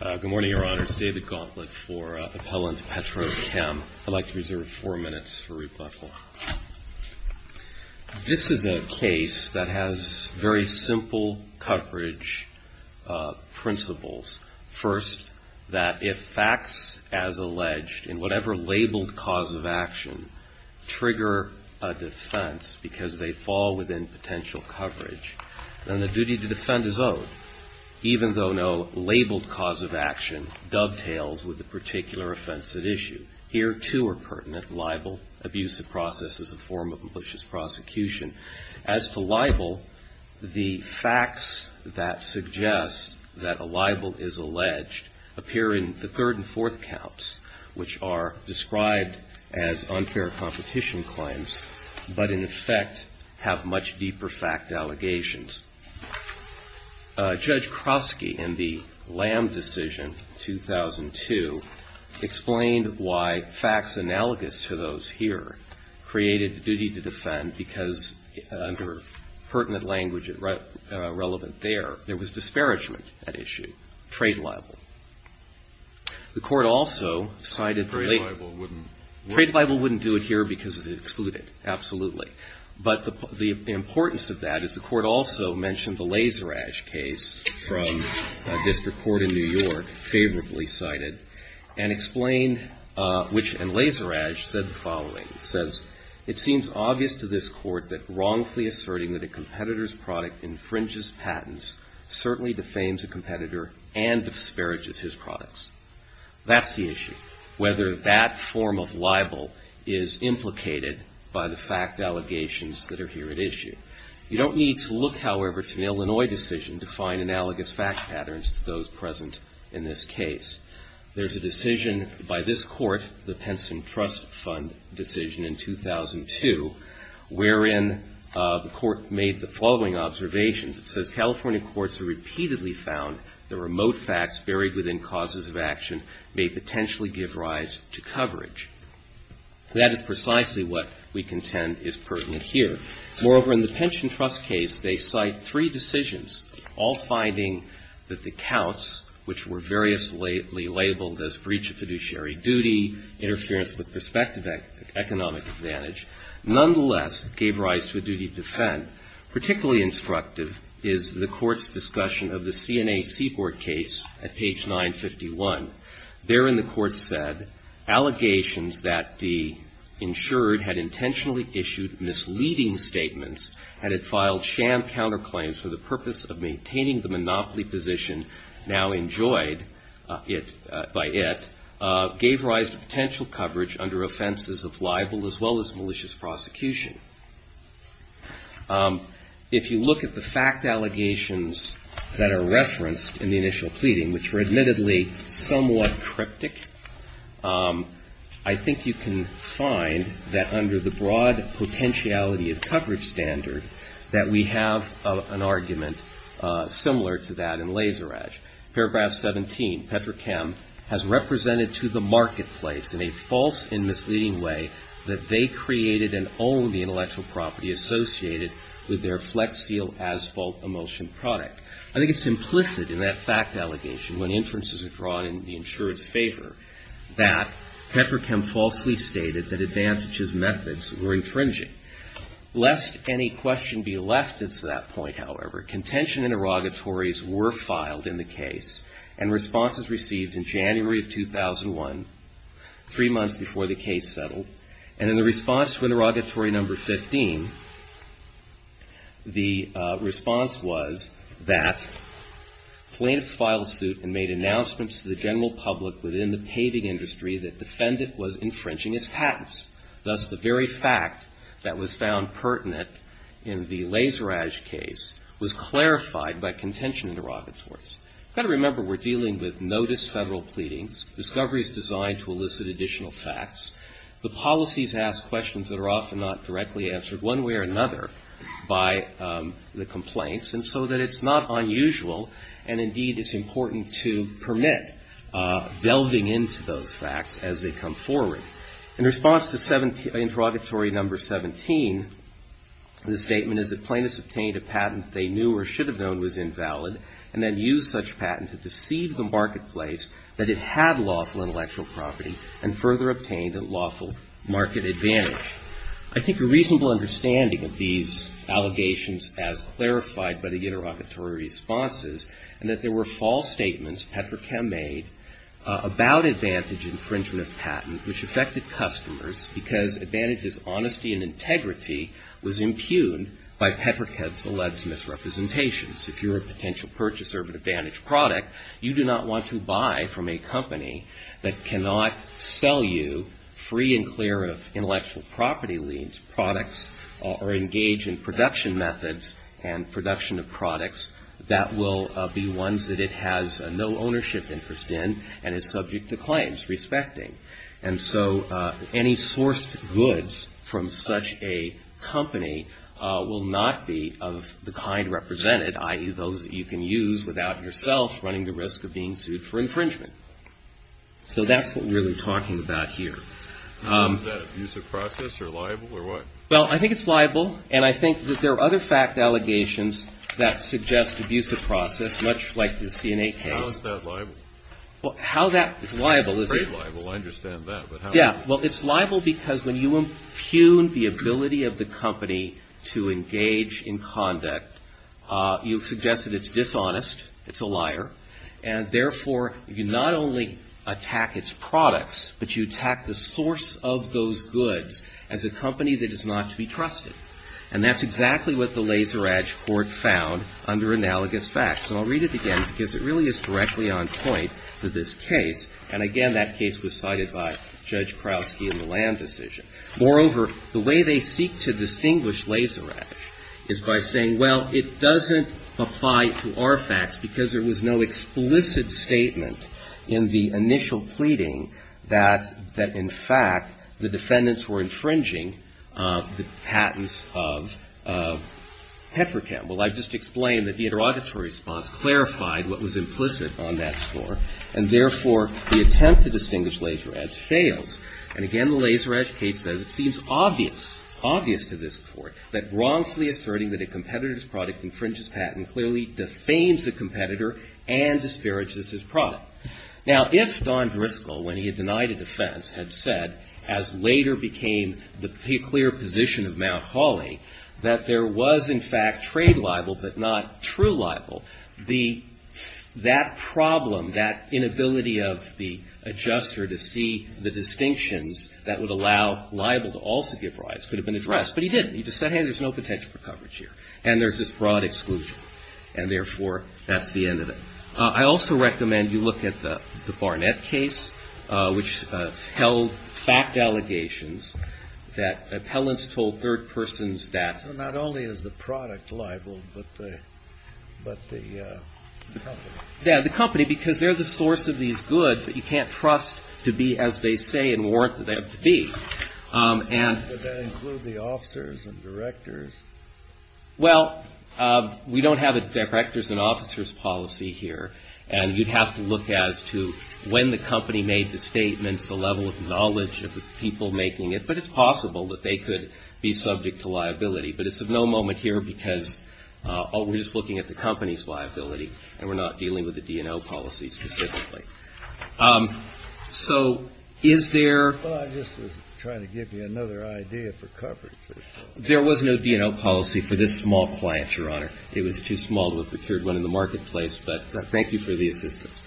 Good morning, Your Honors. David Gauntlett for Appellant Petrochem. I'd like to reserve four minutes for rebuttal. This is a case that has very simple coverage principles. First, that if facts as alleged in whatever labeled cause of action trigger a defense because they fall within potential coverage, then the duty to defend is owed, even though no labeled cause of action dovetails with the particular offense at issue. Here, too, are pertinent libel, abuse of process as a form of malicious prosecution. As to libel, the facts that suggest that a libel is alleged appear in the third and fourth counts, which are described as unfair competition claims, but in effect have much deeper fact allegations. Judge Krosky, in the Lamb decision, 2002, explained why facts analogous to those here created the duty to defend because, under pertinent language relevant there, there was disparagement at issue, trade libel. The court also cited the late... Trade libel wouldn't... Trade libel wouldn't do it here because it's excluded, absolutely. But the importance of that is the court also mentioned the Lazerage case from a district court in New York, favorably cited, and explained which, and Lazerage said the following. He says, it seems obvious to this court that wrongfully asserting that a competitor's product infringes patents certainly defames a competitor and disparages his products. That's the issue, whether that form of libel is implicated by the fact allegations that are here at issue. You don't need to look, however, to an Illinois decision to find analogous fact patterns to those present in this case. There's a decision by this court, the Penson Trust Fund decision in 2002, wherein the court made the following observations. It says, California courts have repeatedly found that remote facts buried within causes of action may potentially give rise to coverage. That is precisely what we contend is pertinent here. Moreover, in the Pension Trust case, they cite three decisions, all finding that the counts, which were variously labeled as breach of fiduciary duty, interference with prospective economic advantage, nonetheless gave rise to a duty to defend. Particularly instructive is the court's discussion of the CNA Seaboard case at page 951. Therein, the court said, allegations that the insured had intentionally issued misleading statements, had it filed sham counterclaims for the purpose of maintaining the monopoly position now enjoyed by it, gave rise to potential coverage under offenses of libel as well as malicious prosecution. If you look at the fact allegations that are referenced in the initial pleading, which were admittedly somewhat cryptic, I think you can find that under the broad potentiality of coverage standard, that we have an argument similar to that in Laseradge. Paragraph 17, Petrochem has represented to the marketplace in a false and misleading way that they created and owned the intellectual property associated with their Flex Seal asphalt emulsion product. I think it's implicit in that fact allegation, when inferences are drawn in the insurer's advantages methods were infringing. Lest any question be left at that point, however, contention interrogatories were filed in the case, and responses received in January of 2001, three months before the case settled. And in the response to interrogatory number 15, the response was that plaintiffs filed a suit and made announcements to the general public within the paving industry that defendant was infringing its patents. Thus, the very fact that was found pertinent in the Laseradge case was clarified by contention interrogatories. You've got to remember we're dealing with notice Federal pleadings, discoveries designed to elicit additional facts. The policies ask questions that are often not directly answered one way or another by the complaints, and so that it's not unusual, and indeed it's important to permit delving into those facts as they come forward. In response to interrogatory number 17, the statement is that plaintiffs obtained a patent they knew or should have known was invalid, and then used such patent to deceive the marketplace that it had lawful intellectual property, and further obtained a lawful market advantage. I think a reasonable understanding of these allegations as clarified by the interrogatory responses, and that there were false statements Petrachem made about advantage infringement of patent, which affected customers, because advantage's honesty and integrity was impugned by Petrachem's alleged misrepresentations. If you're a potential purchaser of an advantage product, you do not want to buy from a company that cannot sell you free and clear of intellectual property liens, products, or engage in production methods and production of products that will be ones that it has no ownership interest in and is subject to claims respecting. And so any sourced goods from such a company will not be of the kind represented, i.e., those that you can use without yourself running the risk of being sued for infringement. So that's what we're really talking about here. Is that abuse of process or liable or what? Well, I think it's liable, and I think that there are other fact allegations that suggest abuse of process, much like the CNA case. How is that liable? How that is liable is a — It's very liable. I understand that, but how — Yeah. Well, it's liable because when you impugn the ability of the company to engage in conduct, you suggest that it's dishonest, it's a liar, and therefore, you not only attack its products, but you attack the source of those goods as a company that is not to be trusted. And that's exactly what the Laseradge Court found under analogous facts. And I'll read it again, because it really is directly on point for this case. And again, that case was cited by Judge Krausky in the Land Decision. Moreover, the way they seek to distinguish Laseradge is by saying, well, it doesn't apply to our facts because there was no explicit statement in the initial pleading that, in fact, the defendants were infringing the patents of Petrochem. Well, I've just explained that the interrogatory response clarified what was implicit on that score, and therefore, the attempt to distinguish Laseradge fails. And again, the Laseradge case says it seems obvious, obvious to this Court, that wrongfully asserting that a competitor's product infringes patent clearly defames the competitor and disparages his product. Now, if Don Driscoll, when he had denied a defense, had said, as later became the clear position of Mount Holly, that there was, in fact, trade libel, but not true libel, that problem, that inability of the adjuster to see the distinctions that would allow libel to also give rise could have been addressed. But he didn't. He just said, hey, there's no potential for coverage here. And there's this broad exclusion. And therefore, that's the end of it. I also recommend you look at the Barnett case, which held fact allegations that appellants told third persons that not only is the product libel, but the company, because they're the source of these goods that you can't trust to be as they say and warrant them to be. And But does that include the officers and directors? Well, we don't have a directors and officers policy here. And you'd have to look as to when the company made the statements, the level of knowledge of the people making it. But it's possible that they could be subject to liability. But it's of no moment here because we're just looking at the company's liability, and we're not dealing with the D&O policy specifically. So is there Well, I'm just trying to give you another idea for coverage or something. There was no D&O policy for this small client, Your Honor. It was too small to have procured one in the marketplace. But thank you for the assistance.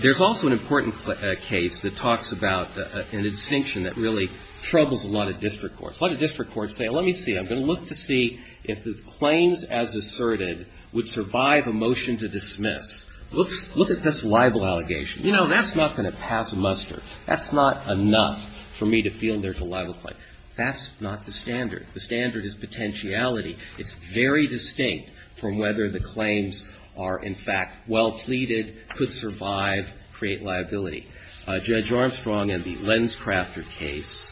There's also an important case that talks about an extinction that really troubles a lot of district courts. A lot of district courts say, let me see. I'm going to look to see if the claims as asserted would survive a motion to dismiss. Look at this libel allegation. You know, that's not going to pass a muster. That's not enough for me to feel there's a libel claim. That's not the standard. The standard is potentiality. It's very distinct from whether the claims are, in fact, well pleaded, could survive, create liability. Judge Armstrong in the Lenscrafter case,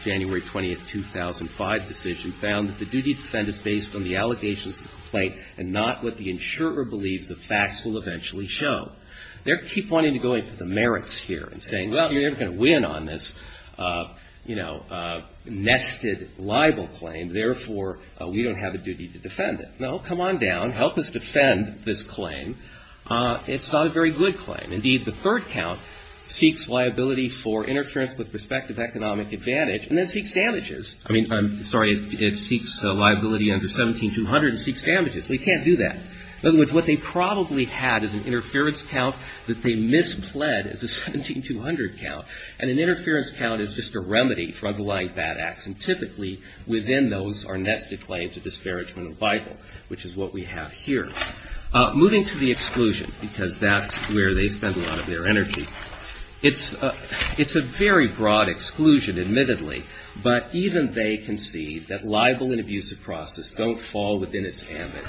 January 20th, 2005 decision, found that the duty to defend is based on the allegations of the complaint and not what the insurer believes the facts will eventually show. They keep wanting to go into the merits here and saying, well, you're never going to win on this, you know, nested libel claim. Therefore, we don't have a duty to defend it. No, come on down. Help us defend this claim. It's not a very good claim. Indeed, the third count seeks liability for interference with prospective economic advantage and then seeks damages. I mean, I'm sorry, it seeks liability under 17200 and seeks damages. We can't do that. In other words, what they probably had is an interference count that they mispled as a 17200 count, and an interference count is just a remedy for underlying bad acts. And typically, within those are nested claims of disparagement of vital, which is what we have here. Moving to the exclusion, because that's where they spend a lot of their energy, it's a very broad exclusion, admittedly, but even they concede that libel and abusive process don't fall within its ambit.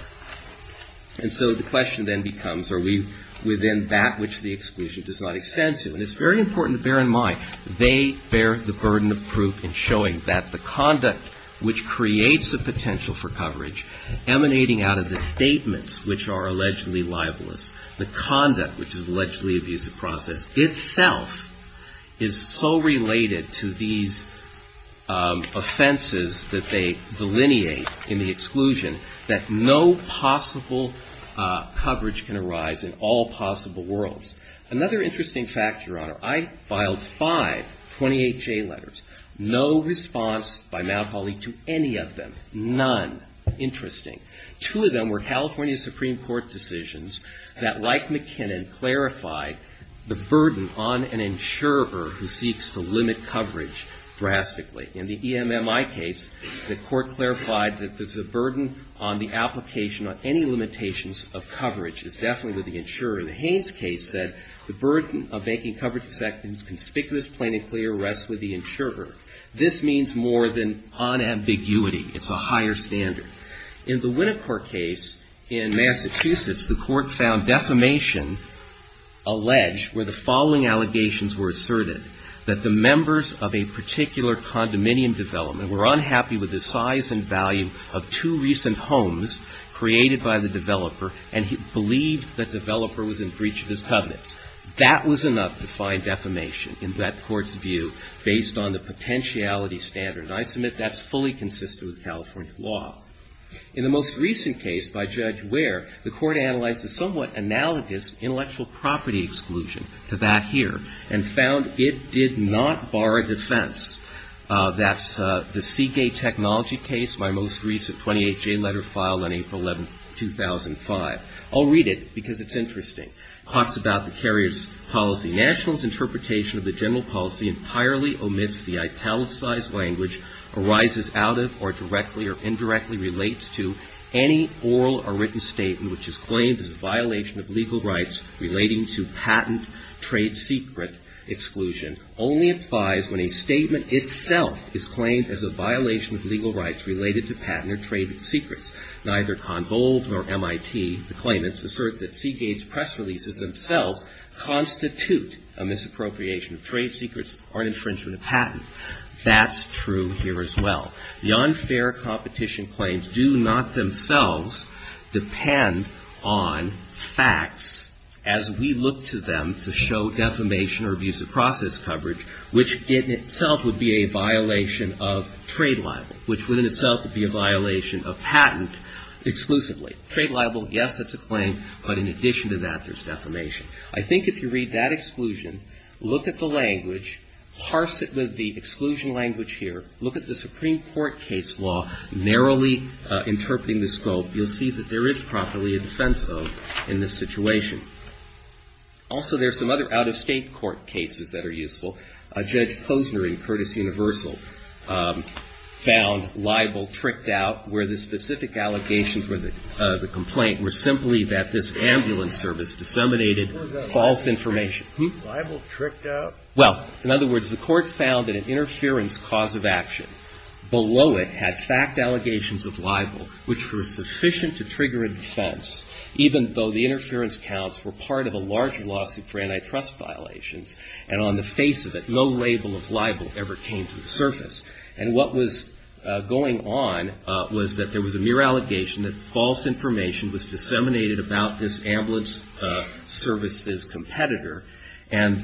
And so the question then becomes, are we within that which the exclusion does not extend to? And it's very important to bear in mind, they bear the burden of proof in showing that the conduct which creates a potential for coverage emanating out of the statements which are allegedly libelous, the conduct which is allegedly abusive process itself is so related to these offenses that they delineate in the exclusion that no possible coverage can arise in all possible worlds. Another interesting fact, Your Honor, I filed five 28-J letters, no response by Malcoly to any of them, none interesting. Two of them were California Supreme Court decisions that, like McKinnon, clarified the burden on an insurer who seeks to limit coverage drastically. In the EMMI case, the court clarified that there's a burden on the application on any limitations of coverage. It's definitely with the insurer. In the Haynes case said, the burden of making coverage detectives conspicuous, plain and clear rests with the insurer. This means more than unambiguity. It's a higher standard. In the Winnicourt case in Massachusetts, the court found defamation alleged where the following particular condominium development were unhappy with the size and value of two recent homes created by the developer, and he believed the developer was in breach of his covenants. That was enough to find defamation in that court's view based on the potentiality standard. And I submit that's fully consistent with California law. In the most recent case by Judge Ware, the court analyzed a somewhat analogous intellectual property exclusion to that here, and found it did not bar a defense. That's the Seagate Technology case, my most recent 28-J letter filed on April 11, 2005. I'll read it because it's interesting. It talks about the carrier's policy. National's interpretation of the general policy entirely omits the italicized language arises out of or directly or indirectly relates to any oral or written statement which is claimed as a violation of legal rights relating to patent trade secret exclusion only applies when a statement itself is claimed as a violation of legal rights related to patent or trade secrets. Neither Convolve nor MIT, the claimants, assert that Seagate's press releases themselves constitute a misappropriation of trade secrets or an infringement of patent. That's true here as well. The unfair competition claims do not themselves depend on facts as we look to them to show defamation or abuse of process coverage, which in itself would be a violation of trade libel, which would in itself be a violation of patent exclusively. Trade libel, yes, it's a claim, but in addition to that, there's defamation. I think if you read that exclusion, look at the language, parse the exclusion language here, look at the Supreme Court case law narrowly interpreting the scope, you'll see that there is properly a defense of in this situation. Also, there's some other out-of-State court cases that are useful. Judge Posner in Curtis Universal found libel tricked out where the specific allegations were the complaint were simply that this ambulance service disseminated false information. Libel tricked out? Well, in other words, the court found that an interference cause of action below it had fact allegations of libel which were sufficient to trigger a defense, even though the interference counts were part of a large lawsuit for antitrust violations. And on the face of it, no label of libel ever came to the surface. And what was going on was that there was a mere allegation that false information was disseminated about this ambulance service's competitor, and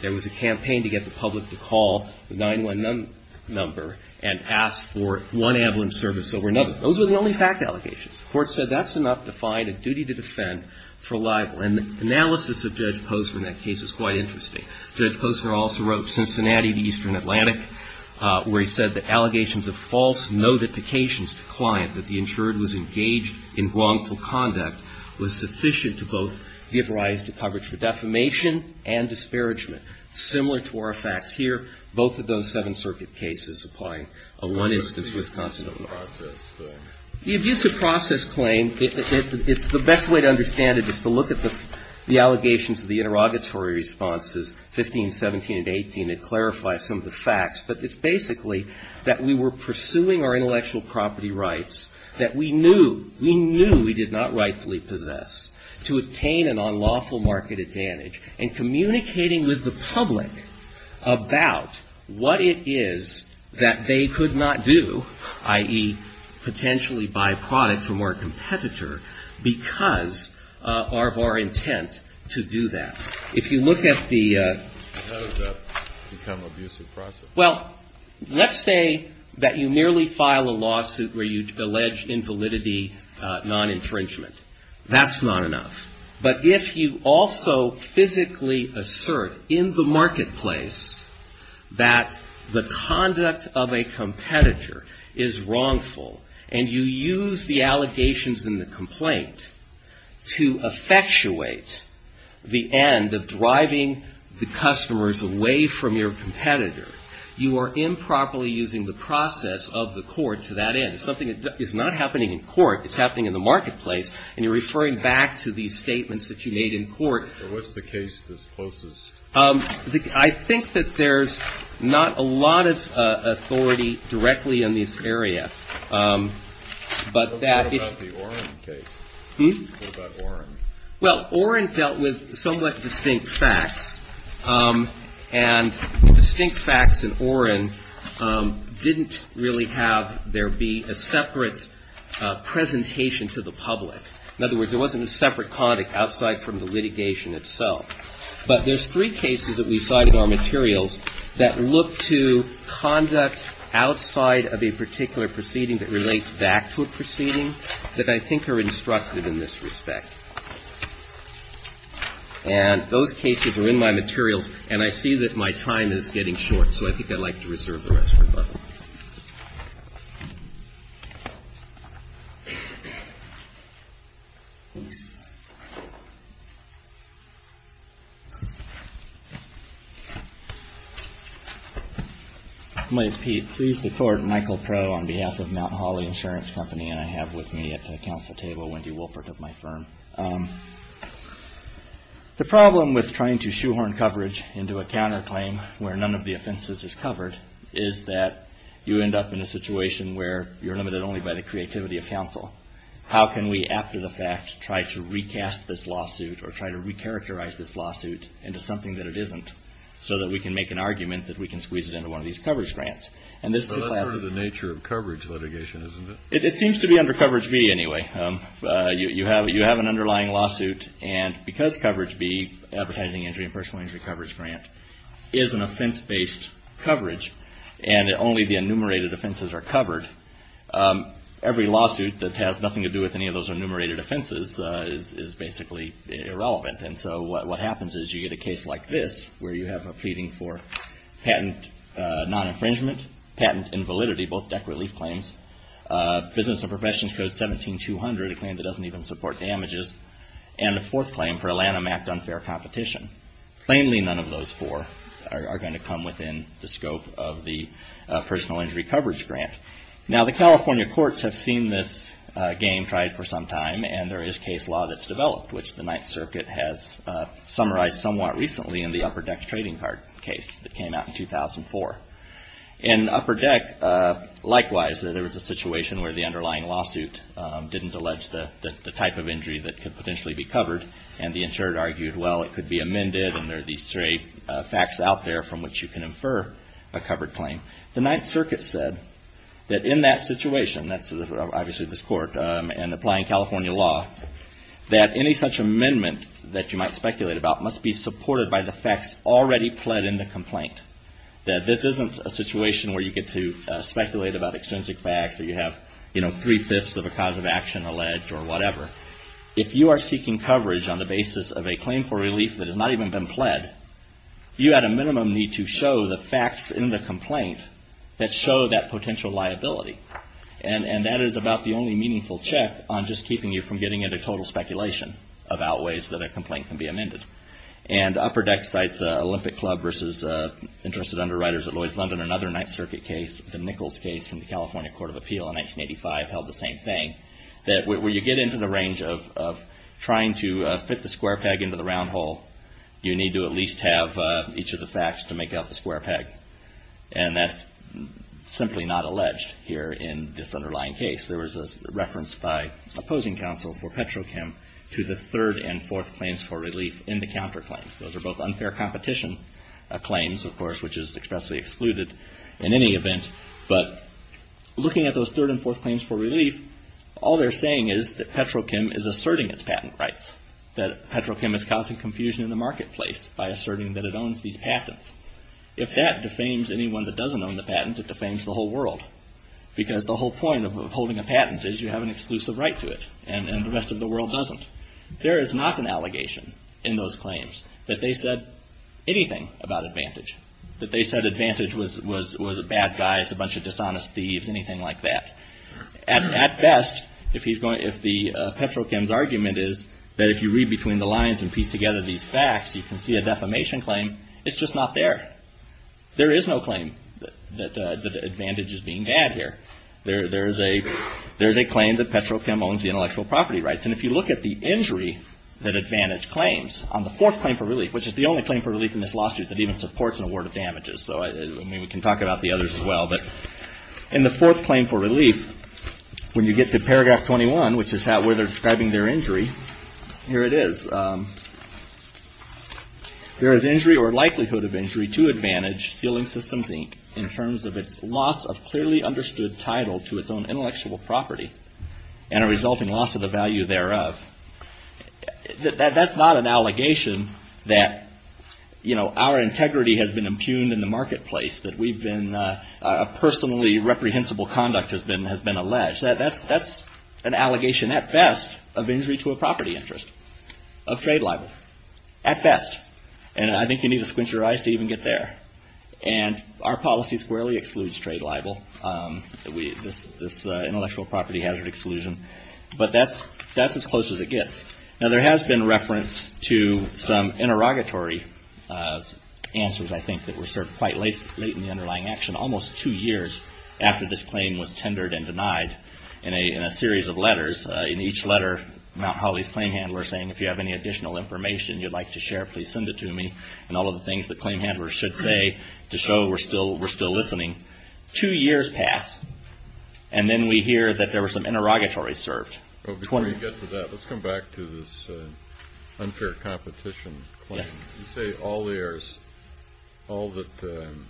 there was a campaign to get the public to call the 911 number and ask for one ambulance service over another. Those were the only fact allegations. The court said that's enough to find a duty to defend for libel. And the analysis of Judge Posner in that case is quite interesting. Judge Posner also wrote Cincinnati v. Eastern Atlantic where he said that allegations of false notifications to client that the insured was engaged in wrongful conduct was sufficient to both give rise to coverage for defamation and disparagement. Similar to our facts here, both of those Seventh Circuit cases applying a one-instance Wisconsin overlap. The abuse of process, though. The abuse of process claim, it's the best way to understand it is to look at the allegations of the interrogatory responses, 15, 17, and 18. It clarifies some of the facts. But it's basically that we were pursuing our intellectual property rights that we knew we did not rightfully possess to obtain an unlawful market advantage and communicating with the public about what it is that they could not do, i.e., potentially buy products from our competitor because of our intent to do that. If you look at the How does that become abuse of process? Well, let's say that you merely file a lawsuit where you allege invalidity, non-intringement. That's not enough. But if you also physically assert in the marketplace that the conduct of a competitor is wrongful and you use the allegations in the complaint to effectuate the end of driving the customers away from your competitor, you are improperly using the process of the court to that end. It's something that is not happening in court. It's happening in the marketplace. And you're referring back to these statements that you made in court. But what's the case that's closest? I think that there's not a lot of authority directly in this area. But that What about the Oren case? Hmm? What about Oren? Well, Oren dealt with somewhat distinct facts. And distinct facts in Oren didn't really have there be a separate presentation to the public. In other words, there wasn't a separate conduct outside from the litigation itself. But there's three cases that we cite in our materials that look to conduct outside of a particular proceeding that relates back to a proceeding that I think are instructive in this respect. And those cases are in my materials. And I see that my time is getting short. So I think I'd like to reserve the rest for Bob. Might I repeat, please deport Michael Crow on behalf of Mount Holly Insurance Company and I have with me at the council table Wendy Wolpert of my firm. The problem with trying to shoehorn coverage into a counterclaim where none of the offenses is covered is that you end up in a situation where you're limited only by the creativity of counsel. How can we, after the fact, try to recast this lawsuit or try to recharacterize this lawsuit into something that it isn't so that we can make an argument that we can squeeze it into one of these coverage grants? So that's sort of the nature of coverage litigation, isn't it? It seems to be under Coverage B anyway. You have an underlying lawsuit and because Coverage B, Advertising Injury and Personal Injury Coverage Grant, is an offense-based coverage and only the enumerated offenses are covered, every lawsuit that has nothing to do with any of those enumerated offenses is basically irrelevant. And so what happens is you get a case like this where you have a pleading for patent non-infringement, patent invalidity, both business and professions code 17200, a claim that doesn't even support damages, and a fourth claim for a Lanham Act unfair competition. Plainly none of those four are going to come within the scope of the Personal Injury Coverage Grant. Now, the California courts have seen this game tried for some time and there is case law that's developed, which the Ninth Circuit has summarized somewhat recently in the Upper Deck Trading Card case that came out in 2004. In Upper Deck, the underlying lawsuit didn't allege the type of injury that could potentially be covered and the insured argued, well, it could be amended and there are these three facts out there from which you can infer a covered claim. The Ninth Circuit said that in that situation, that's obviously this court and applying California law, that any such amendment that you might speculate about must be supported by the facts already pled in the complaint. That this isn't a situation where you get to speculate about extrinsic facts or you have, you know, three-fifths of a cause of action alleged or whatever. If you are seeking coverage on the basis of a claim for relief that has not even been pled, you at a minimum need to show the facts in the complaint that show that potential liability. And that is about the only meaningful check on just keeping you from getting into total speculation about ways that a complaint can be amended. And Upper Deck cites Olympic Club versus Interested Underwriters at Lloyd's London, another Ninth Circuit case, the Nichols case from the California Court of Appeal in 1985 held the same thing. That when you get into the range of trying to fit the square peg into the round hole, you need to at least have each of the facts to make out the square peg. And that's simply not alleged here in this underlying case. There was a reference by opposing counsel for Petrochem to the third and fourth claims for relief in the counterclaim. Those are both unfair competition claims, of course, which is expressly excluded in any event. But looking at those third and fourth claims for relief, all they're saying is that Petrochem is asserting its patent rights. That Petrochem is causing confusion in the marketplace by asserting that it owns these patents. If that defames anyone that doesn't own the patent, it defames the whole world. Because the whole point of holding a patent is you have an exclusive right to it. And the rest of the world doesn't. There is not an allegation in those claims that they said anything about advantage. That they said advantage was a bad guy, it's a bunch of dishonest thieves, anything like that. At best, if Petrochem's argument is that if you read between the lines and piece together these facts, you can see a defamation claim. It's just not there. There is no claim that advantage is being bad here. There's a claim that Petrochem owns the intellectual property rights. And if you look at the injury that advantage claims on the fourth claim for relief, which is the only claim for relief in this lawsuit that even we can talk about the others as well. But in the fourth claim for relief, when you get to paragraph 21, which is where they're describing their injury, here it is. There is injury or likelihood of injury to advantage ceiling systems in terms of its loss of clearly understood title to its own intellectual property and a resulting loss of the value thereof. That's not an allegation that, you know, our integrity has been impugned in the marketplace, that we've been, a personally reprehensible conduct has been alleged. That's an allegation at best of injury to a property interest, of trade libel, at best. And I think you need to squint your eyes to even get there. And our policy squarely excludes trade libel, this intellectual property hazard exclusion. But that's as close as it gets. Now there has been reference to some interrogatory answers, I think, that were served quite late in the underlying action, almost two years after this claim was tendered and denied in a series of letters. In each letter, Mount Holly's claim handler saying, if you have any additional information you'd like to share, please send it to me. And all of the things the claim handler should say to show we're still listening. Two years pass, and then we hear that there were some interrogatories served. Before we get to that, let's come back to this unfair competition claim. You say all that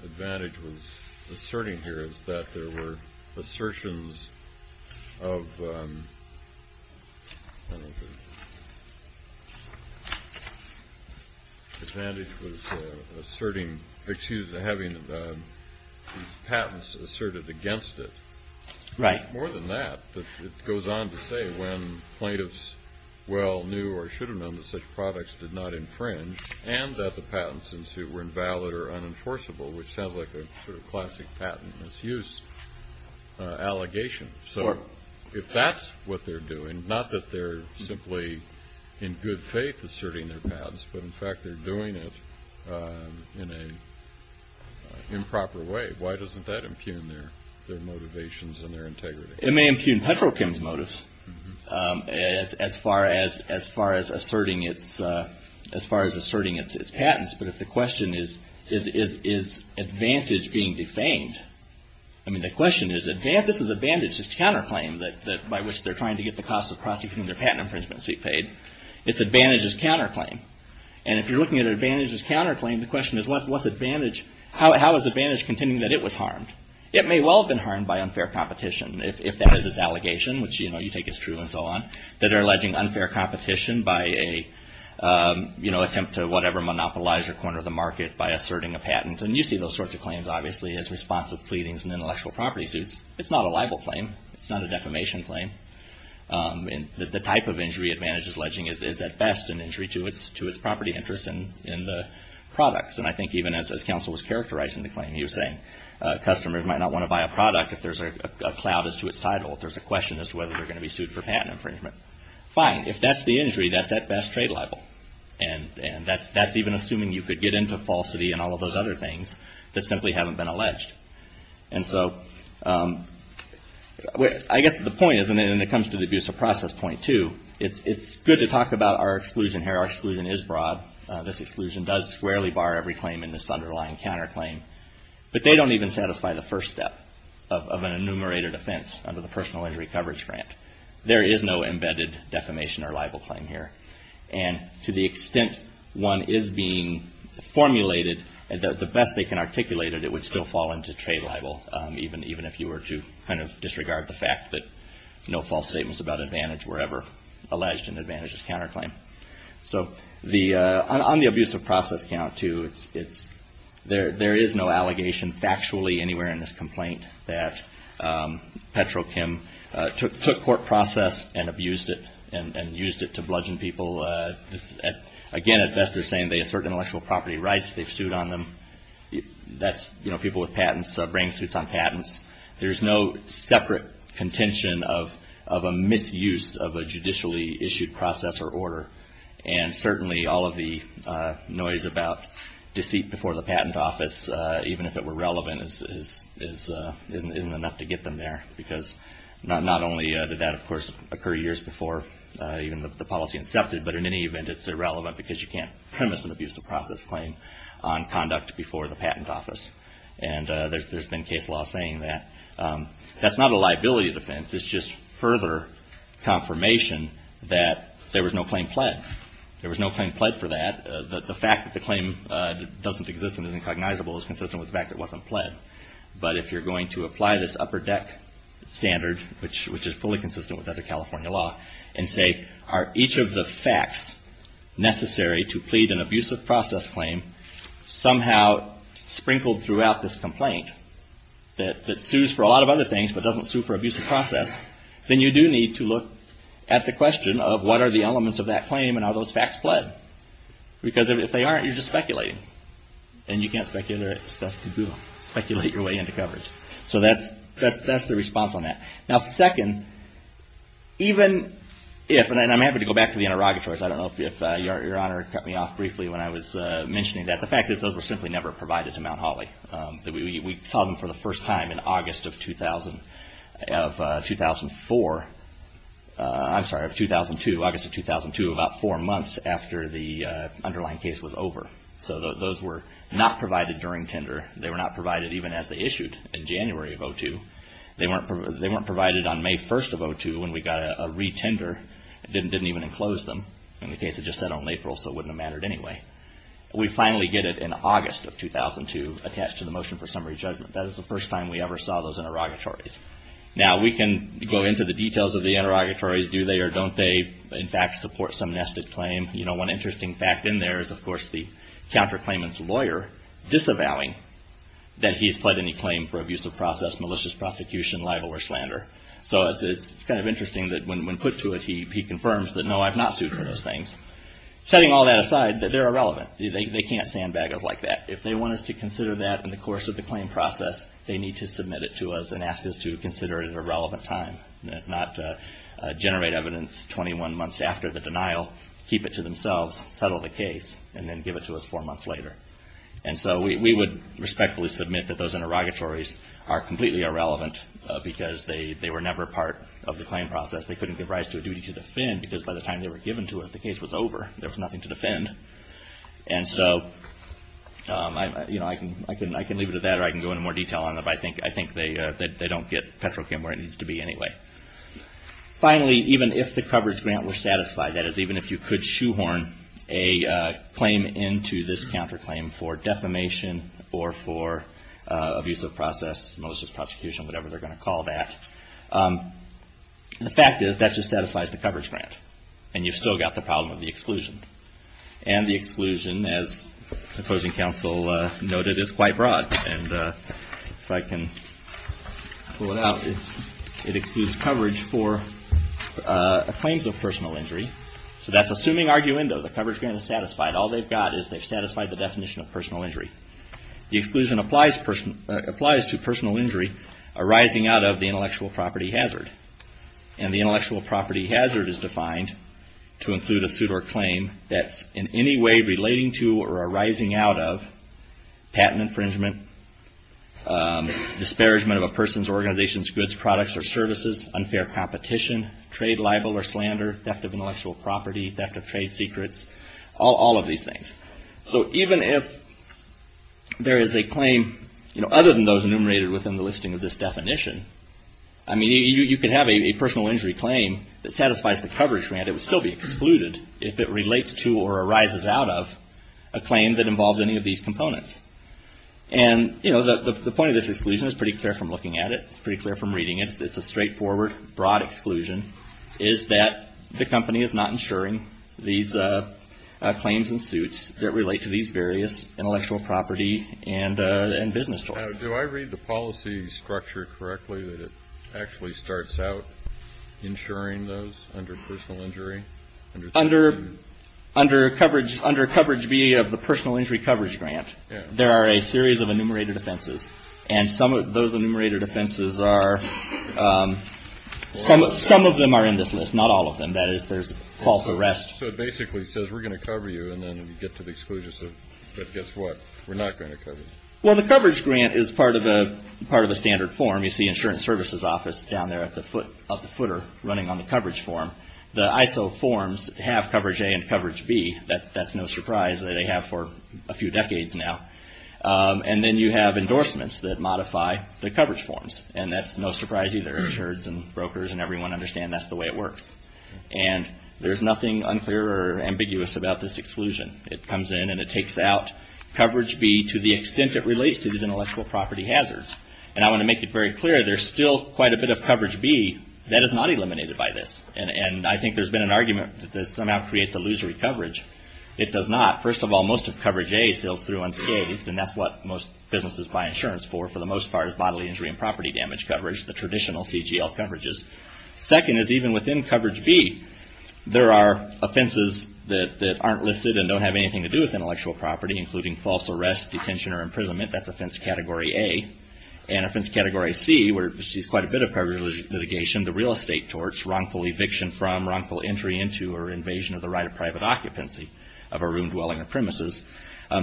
Advantage was asserting here is that there were assertions of, I don't know if it was, Advantage was asserting, excuse me, having these patents asserted against it. Right. More than that, it goes on to say when plaintiffs well knew or should have known that such products did not infringe, and that the patents ensued were invalid or unenforceable, which sounds like a sort of classic patent misuse allegation. So if that's what they're doing, not that they're simply in good faith asserting their patents, but in fact they're doing it in an improper way, why doesn't that impugn their motivations and their integrity? It may impugn Petrochem's motives as far as asserting its patents. But if the question is, is Advantage being defamed? I mean, the question is, this is Advantage's counterclaim by which they're trying to get the cost of prosecuting their patent infringements to be paid. It's Advantage's counterclaim. And if you're looking at Advantage's counterclaim, the question is, how is Advantage contending that it was harmed? It may well have been harmed by unfair competition, if that is its allegation, which you take as true and so on, that they're alleging unfair competition by an attempt to whatever monopolize or corner the market by asserting a patent. And you see those sorts of claims, obviously, as responsive pleadings and intellectual property suits. It's not a libel claim. It's not a defamation claim. The type of injury Advantage is alleging is at best an injury to its property interest in the products. And I think even as counsel was characterizing the claim, he was saying, customers might not want to buy a product if there's a cloud as to its title, if there's a question as to whether they're going to be sued for patent infringement. Fine, if that's the injury, that's at best trade libel. And that's even assuming you could get into falsity and all of those other things that simply haven't been alleged. And so, I guess the point is, and it comes to the abuse of process point, too, it's good to talk about our exclusion here. Our exclusion is broad. This exclusion does squarely bar every claim in this underlying counterclaim. But they don't even satisfy the first step of an enumerated offense under the Personal Injury Coverage Grant. There is no embedded defamation or libel claim here. And to the extent one is being formulated, the best they can articulate it, it would still fall into trade libel, even if you were to kind of disregard the fact that no false statements about Advantage were ever alleged in Advantage's counterclaim. So, on the abuse of process count, too, there is no allegation factually anywhere in this complaint that Petrochem took court process and abused it, and used it to bludgeon people. Again, at best, they're saying they assert intellectual property rights. They've sued on them. That's, you know, people with patents, brain suits on patents. There's no separate contention of a misuse of a judicially issued process or order. And certainly, all of the noise about deceit before the patent office, even if it were relevant, isn't enough to get them there. Because not only did that, of course, occur years before even the policy incepted, but in any event, it's irrelevant because you can't premise an abuse of process claim on conduct before the patent office. And there's been case law saying that. That's not a liability defense. It's just further confirmation that there was no claim pled. There was no claim pled for that. The fact that the claim doesn't exist and is incognizable is consistent with the fact that it wasn't pled. But if you're going to apply this upper deck standard, which is fully consistent with other California law, and say, are each of the facts necessary to plead an abuse of process claim somehow sprinkled throughout this complaint that sues for a lot of other things but doesn't sue for abuse of process, then you do need to look at the question of what are the elements of that claim and are those facts pled? Because if they aren't, you're just speculating. And you can't speculate your way into coverage. So that's the response on that. Now, second, even if, and I'm happy to go back to the interrogatories. I don't know if Your Honor cut me off briefly when I was mentioning that. The fact is, those were simply never provided to Mount Holly. We saw them for the first time in August of 2004, I'm sorry, of 2002, August of 2002, about four months after the underlying case was over. So those were not provided during tender. They were not provided even as they issued in January of 02. They weren't provided on May 1st of 02 when we got a re-tender. It didn't even enclose them. In the case, it just said on April, so it wouldn't have mattered anyway. We finally get it in August of 2002 attached to the motion for summary judgment. That is the first time we ever saw those interrogatories. Now, we can go into the details of the interrogatories. Do they or don't they, in fact, support some nested claim? You know, one interesting fact in there is, of course, the counterclaimant's lawyer disavowing that he has pled any claim for abuse of process, malicious prosecution, libel, or slander. So it's kind of interesting that when put to it, he confirms that, no, I've not sued for those things. Setting all that aside, they're irrelevant. They can't sandbag us like that. If they want us to consider that in the course of the claim process, they need to submit it to us and ask us to consider it at a relevant time, not generate evidence 21 months after the denial, keep it to themselves, settle the case, and then give it to us four months later. And so we would respectfully submit that those interrogatories are completely irrelevant because they were never part of the claim process. They couldn't give rise to a duty to defend because by the time they were given to us, the case was over. There was nothing to defend. And so, you know, I can leave it at that or I can go into more detail on it. I think they don't get Petrochem where it needs to be anyway. Finally, even if the coverage grant were satisfied, that is, even if you could shoehorn a claim into this counterclaim for defamation or for abuse of process, malicious prosecution, whatever they're going to call that, the fact is that just satisfies the coverage grant. And you've still got the problem of the exclusion. And the exclusion, as the opposing counsel noted, is quite broad. And if I can pull it out, it excludes coverage for claims of personal injury. So that's assuming arguendo, the coverage grant is satisfied. All they've got is they've satisfied the definition of personal injury. The exclusion applies to personal injury arising out of the intellectual property hazard. And the intellectual property hazard is defined to include a suit or claim that's in any way relating to or arising out of patent infringement, disparagement of a person's organization's goods, products, or services, unfair competition, trade libel or slander, theft of intellectual property, theft of trade secrets, all of these things. So even if there is a claim, you know, other than those enumerated within the listing of this definition, I mean, you could have a personal injury claim that satisfies the coverage grant. It would still be excluded if it relates to or arises out of a claim that involves any of these components. And, you know, the point of this exclusion is pretty clear from looking at it, it's pretty clear from reading it, it's a straightforward, broad exclusion, is that the company is not insuring these claims and suits that relate to these various intellectual property and business tools. Do I read the policy structure correctly that it actually starts out insuring those under personal injury? Under coverage B of the personal injury coverage grant, there are a series of enumerated offenses, and some of those enumerated offenses are, some of them are in this list, not all of them. That is, there's false arrest. So it basically says, we're going to cover you, and then you get to the exclusion, but guess what, we're not going to cover you. Well, the coverage grant is part of a standard form. You see insurance services office down there at the footer running on the coverage form. The ISO forms have coverage A and coverage B. That's no surprise that they have for a few decades now. And then you have endorsements that modify the coverage forms. And that's no surprise either. Insurers and brokers and everyone understand that's the way it works. And there's nothing unclear or ambiguous about this exclusion. It comes in and it takes out coverage B to the extent it relates to these intellectual property hazards. And I want to make it very clear, there's still quite a bit of coverage B that is not eliminated by this. And I think there's been an argument that this somehow creates illusory coverage. It does not. First of all, most of coverage A sails through unscathed, and that's what most businesses buy insurance for, for the most part, is bodily injury and property damage coverage, the traditional CGL coverages. Second is even within coverage B, there are offenses that aren't listed and don't have anything to do with intellectual property, including false arrest, detention, or imprisonment. That's offense category A. And offense category C, where it receives quite a bit of prior litigation, the real estate torts, wrongful eviction from, wrongful entry into, or invasion of the right of private occupancy of a room, dwelling, or premises,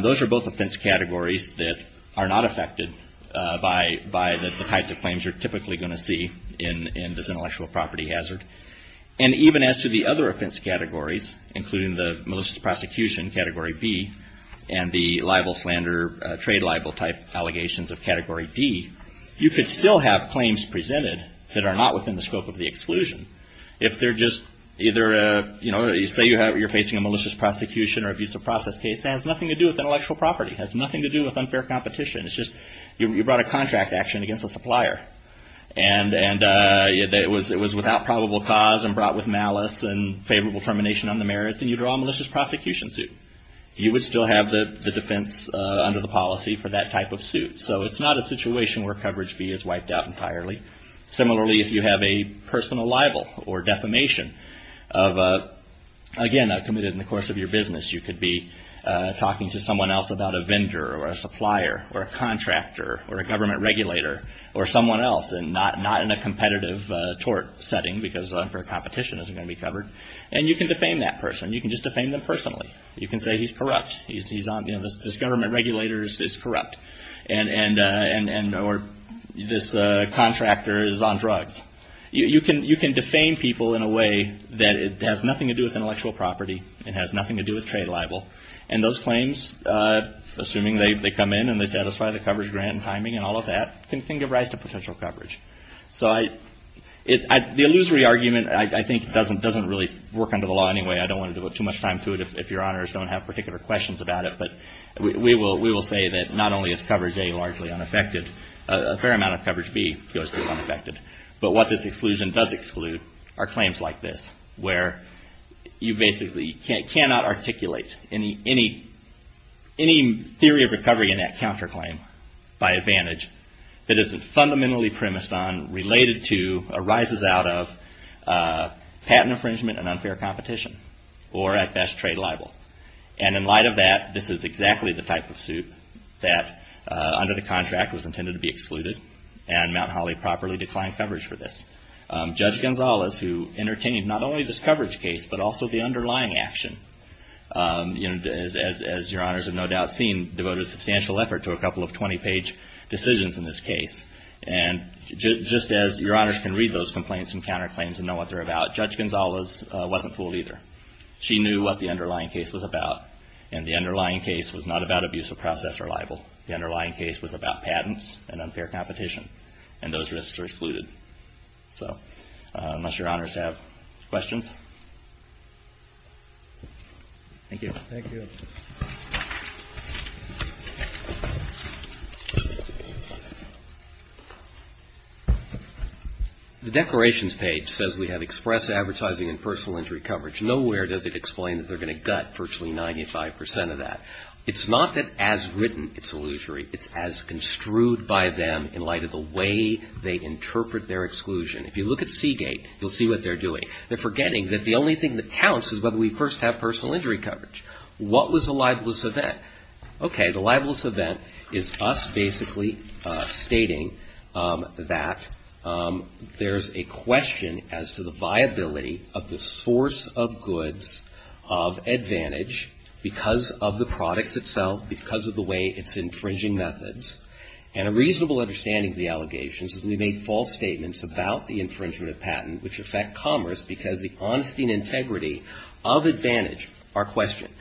those are both offense categories that are not affected by the types of claims you're typically going to see in this intellectual property hazard. And even as to the other offense categories, including the malicious prosecution, category B, and the libel, slander, trade libel type allegations of category D, you could still have claims presented that are not within the scope of the exclusion. If they're just either, you know, say you're facing a malicious prosecution or abuse of process case that has nothing to do with intellectual property, has nothing to do with unfair competition. It's just you brought a contract action against a supplier, and it was without probable cause, and brought with malice, and favorable termination on the merits, and you draw a malicious prosecution suit. You would still have the defense under the policy for that type of suit. So it's not a situation where coverage B is wiped out entirely. Similarly, if you have a personal libel or defamation of, again, a committed in the course of your business, you could be talking to someone else about a vendor, or a supplier, or a contractor, or a government regulator, or someone else, and not in a competitive tort setting, because unfair competition isn't going to be covered. And you can defame that person. You can just defame them personally. You can say he's corrupt. He's on, you know, this government regulator is corrupt, and, or this contractor is on drugs. You can defame people in a way that it has nothing to do with intellectual property. It has nothing to do with trade libel. And those claims, assuming they come in and they satisfy the coverage grant and timing and all of that, can give rise to potential coverage. So the illusory argument, I think, doesn't really work under the law anyway. I don't want to devote too much time to it if your honors don't have particular questions about it. But we will say that not only is coverage A largely unaffected, a fair amount of coverage B goes to unaffected. But what this exclusion does exclude are claims like this, where you basically cannot articulate any theory of recovery in that counterclaim by advantage that isn't fundamentally premised on, related to, arises out of patent infringement and unfair competition, or at best, trade libel. And in light of that, this is exactly the type of suit that, under the contract, was intended to be excluded. And Mount Holly properly declined coverage for this. Judge Gonzalez, who entertained not only this coverage case, but also the underlying action, you know, as your honors have no doubt seen, devoted a substantial effort to a couple of 20-page decisions in this case. And just as your honors can read those complaints and counterclaims and know what they're about, Judge Gonzalez wasn't fooled either. She knew what the underlying case was about. And the underlying case was not about abuse of process or libel. The underlying case was about patents and unfair competition. And those risks were excluded. So unless your honors have questions, thank you. The Declarations page says we have express advertising and personal injury coverage. Nowhere does it explain that they're going to gut virtually 95 percent of that. It's not that, as written, it's illusory. It's as construed by them in light of the way they interpret their exclusion. If you look at Seagate, you'll see what they're doing. They're forgetting that the only thing that counts is whether we first have personal injury coverage. What was a libelous event? Okay. The libelous event is us basically stating that there's a question as to the viability of the source of goods of Advantage because of the products itself, because of the way it's infringing methods. And a reasonable understanding of the allegations is we made false statements about the infringement of patent, which affect commerce because the honesty and integrity of Advantage are questioned.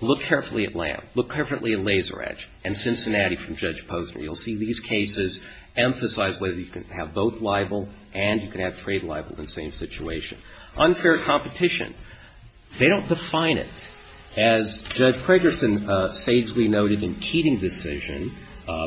Look carefully at Lamb. Look carefully at Laser Edge and Cincinnati from Judge Posner. You'll see these cases emphasize whether you can have both libel and you can have trade libel in the same situation. Unfair competition. They don't define it. As Judge Craigerson sagely noted in Keating's decision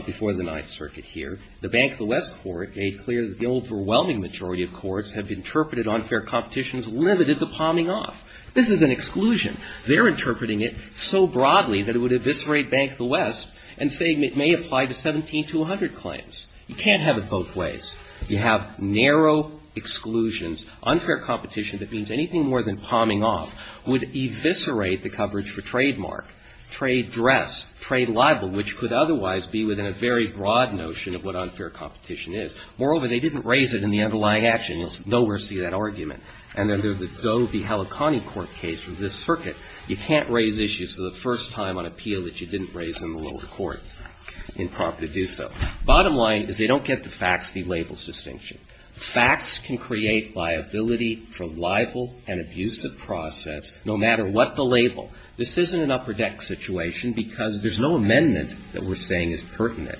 before the Ninth Circuit here, the Bank of the West Court made clear that the overwhelming majority of courts have interpreted unfair competitions limited to palming off. This is an exclusion. They're interpreting it so broadly that it would eviscerate Bank of the West and say it may apply to 17200 claims. You can't have it both ways. You have narrow exclusions. Unfair competition that means anything more than palming off would eviscerate the coverage for trademark, trade dress, trade libel, which could otherwise be within a very broad notion of what unfair competition is. Moreover, they didn't raise it in the underlying action. It's nowhere near that argument. And then there's the Doe v. Heliconti Court case with this circuit. You can't raise issues for the first time on appeal that you didn't raise in the lower court in prompt to do so. Bottom line is they don't get the facts, the labels distinction. Facts can create liability for libel and abuse of process no matter what the label. This isn't an upper deck situation because there's no amendment that we're saying is pertinent.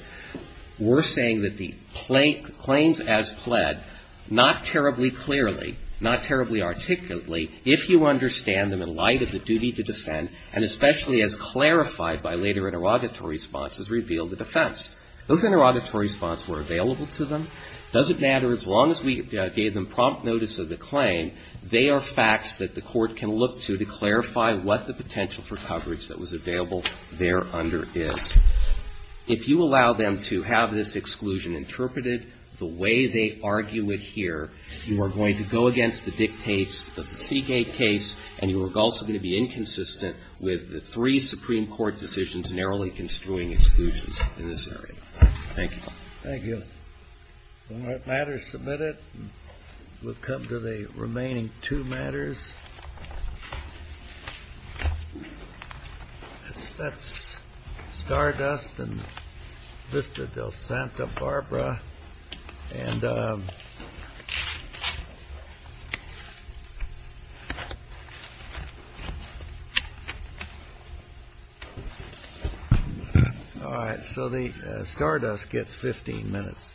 We're saying that the claims as pled, not terribly clearly, not terribly articulately, if you understand them in light of the duty to defend, and especially as clarified by later interrogatory responses, reveal the defense. Those interrogatory responses were available to them. Doesn't matter as long as we gave them prompt notice of the claim, they are facts that the court can look to to clarify what the potential for coverage that was available there under is. If you allow them to have this exclusion interpreted the way they argue it here, you are going to go against the dictates of the Seagate case, and you are also going to be inconsistent with the three Supreme Court decisions narrowly construing exclusions in this area. Thank you. Thank you. All right, matters submitted. We'll come to the remaining two matters. That's Stardust and Vista del Santa Barbara. All right, so the Stardust gets 15 minutes,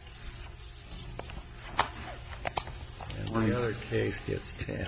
and the other case gets 10.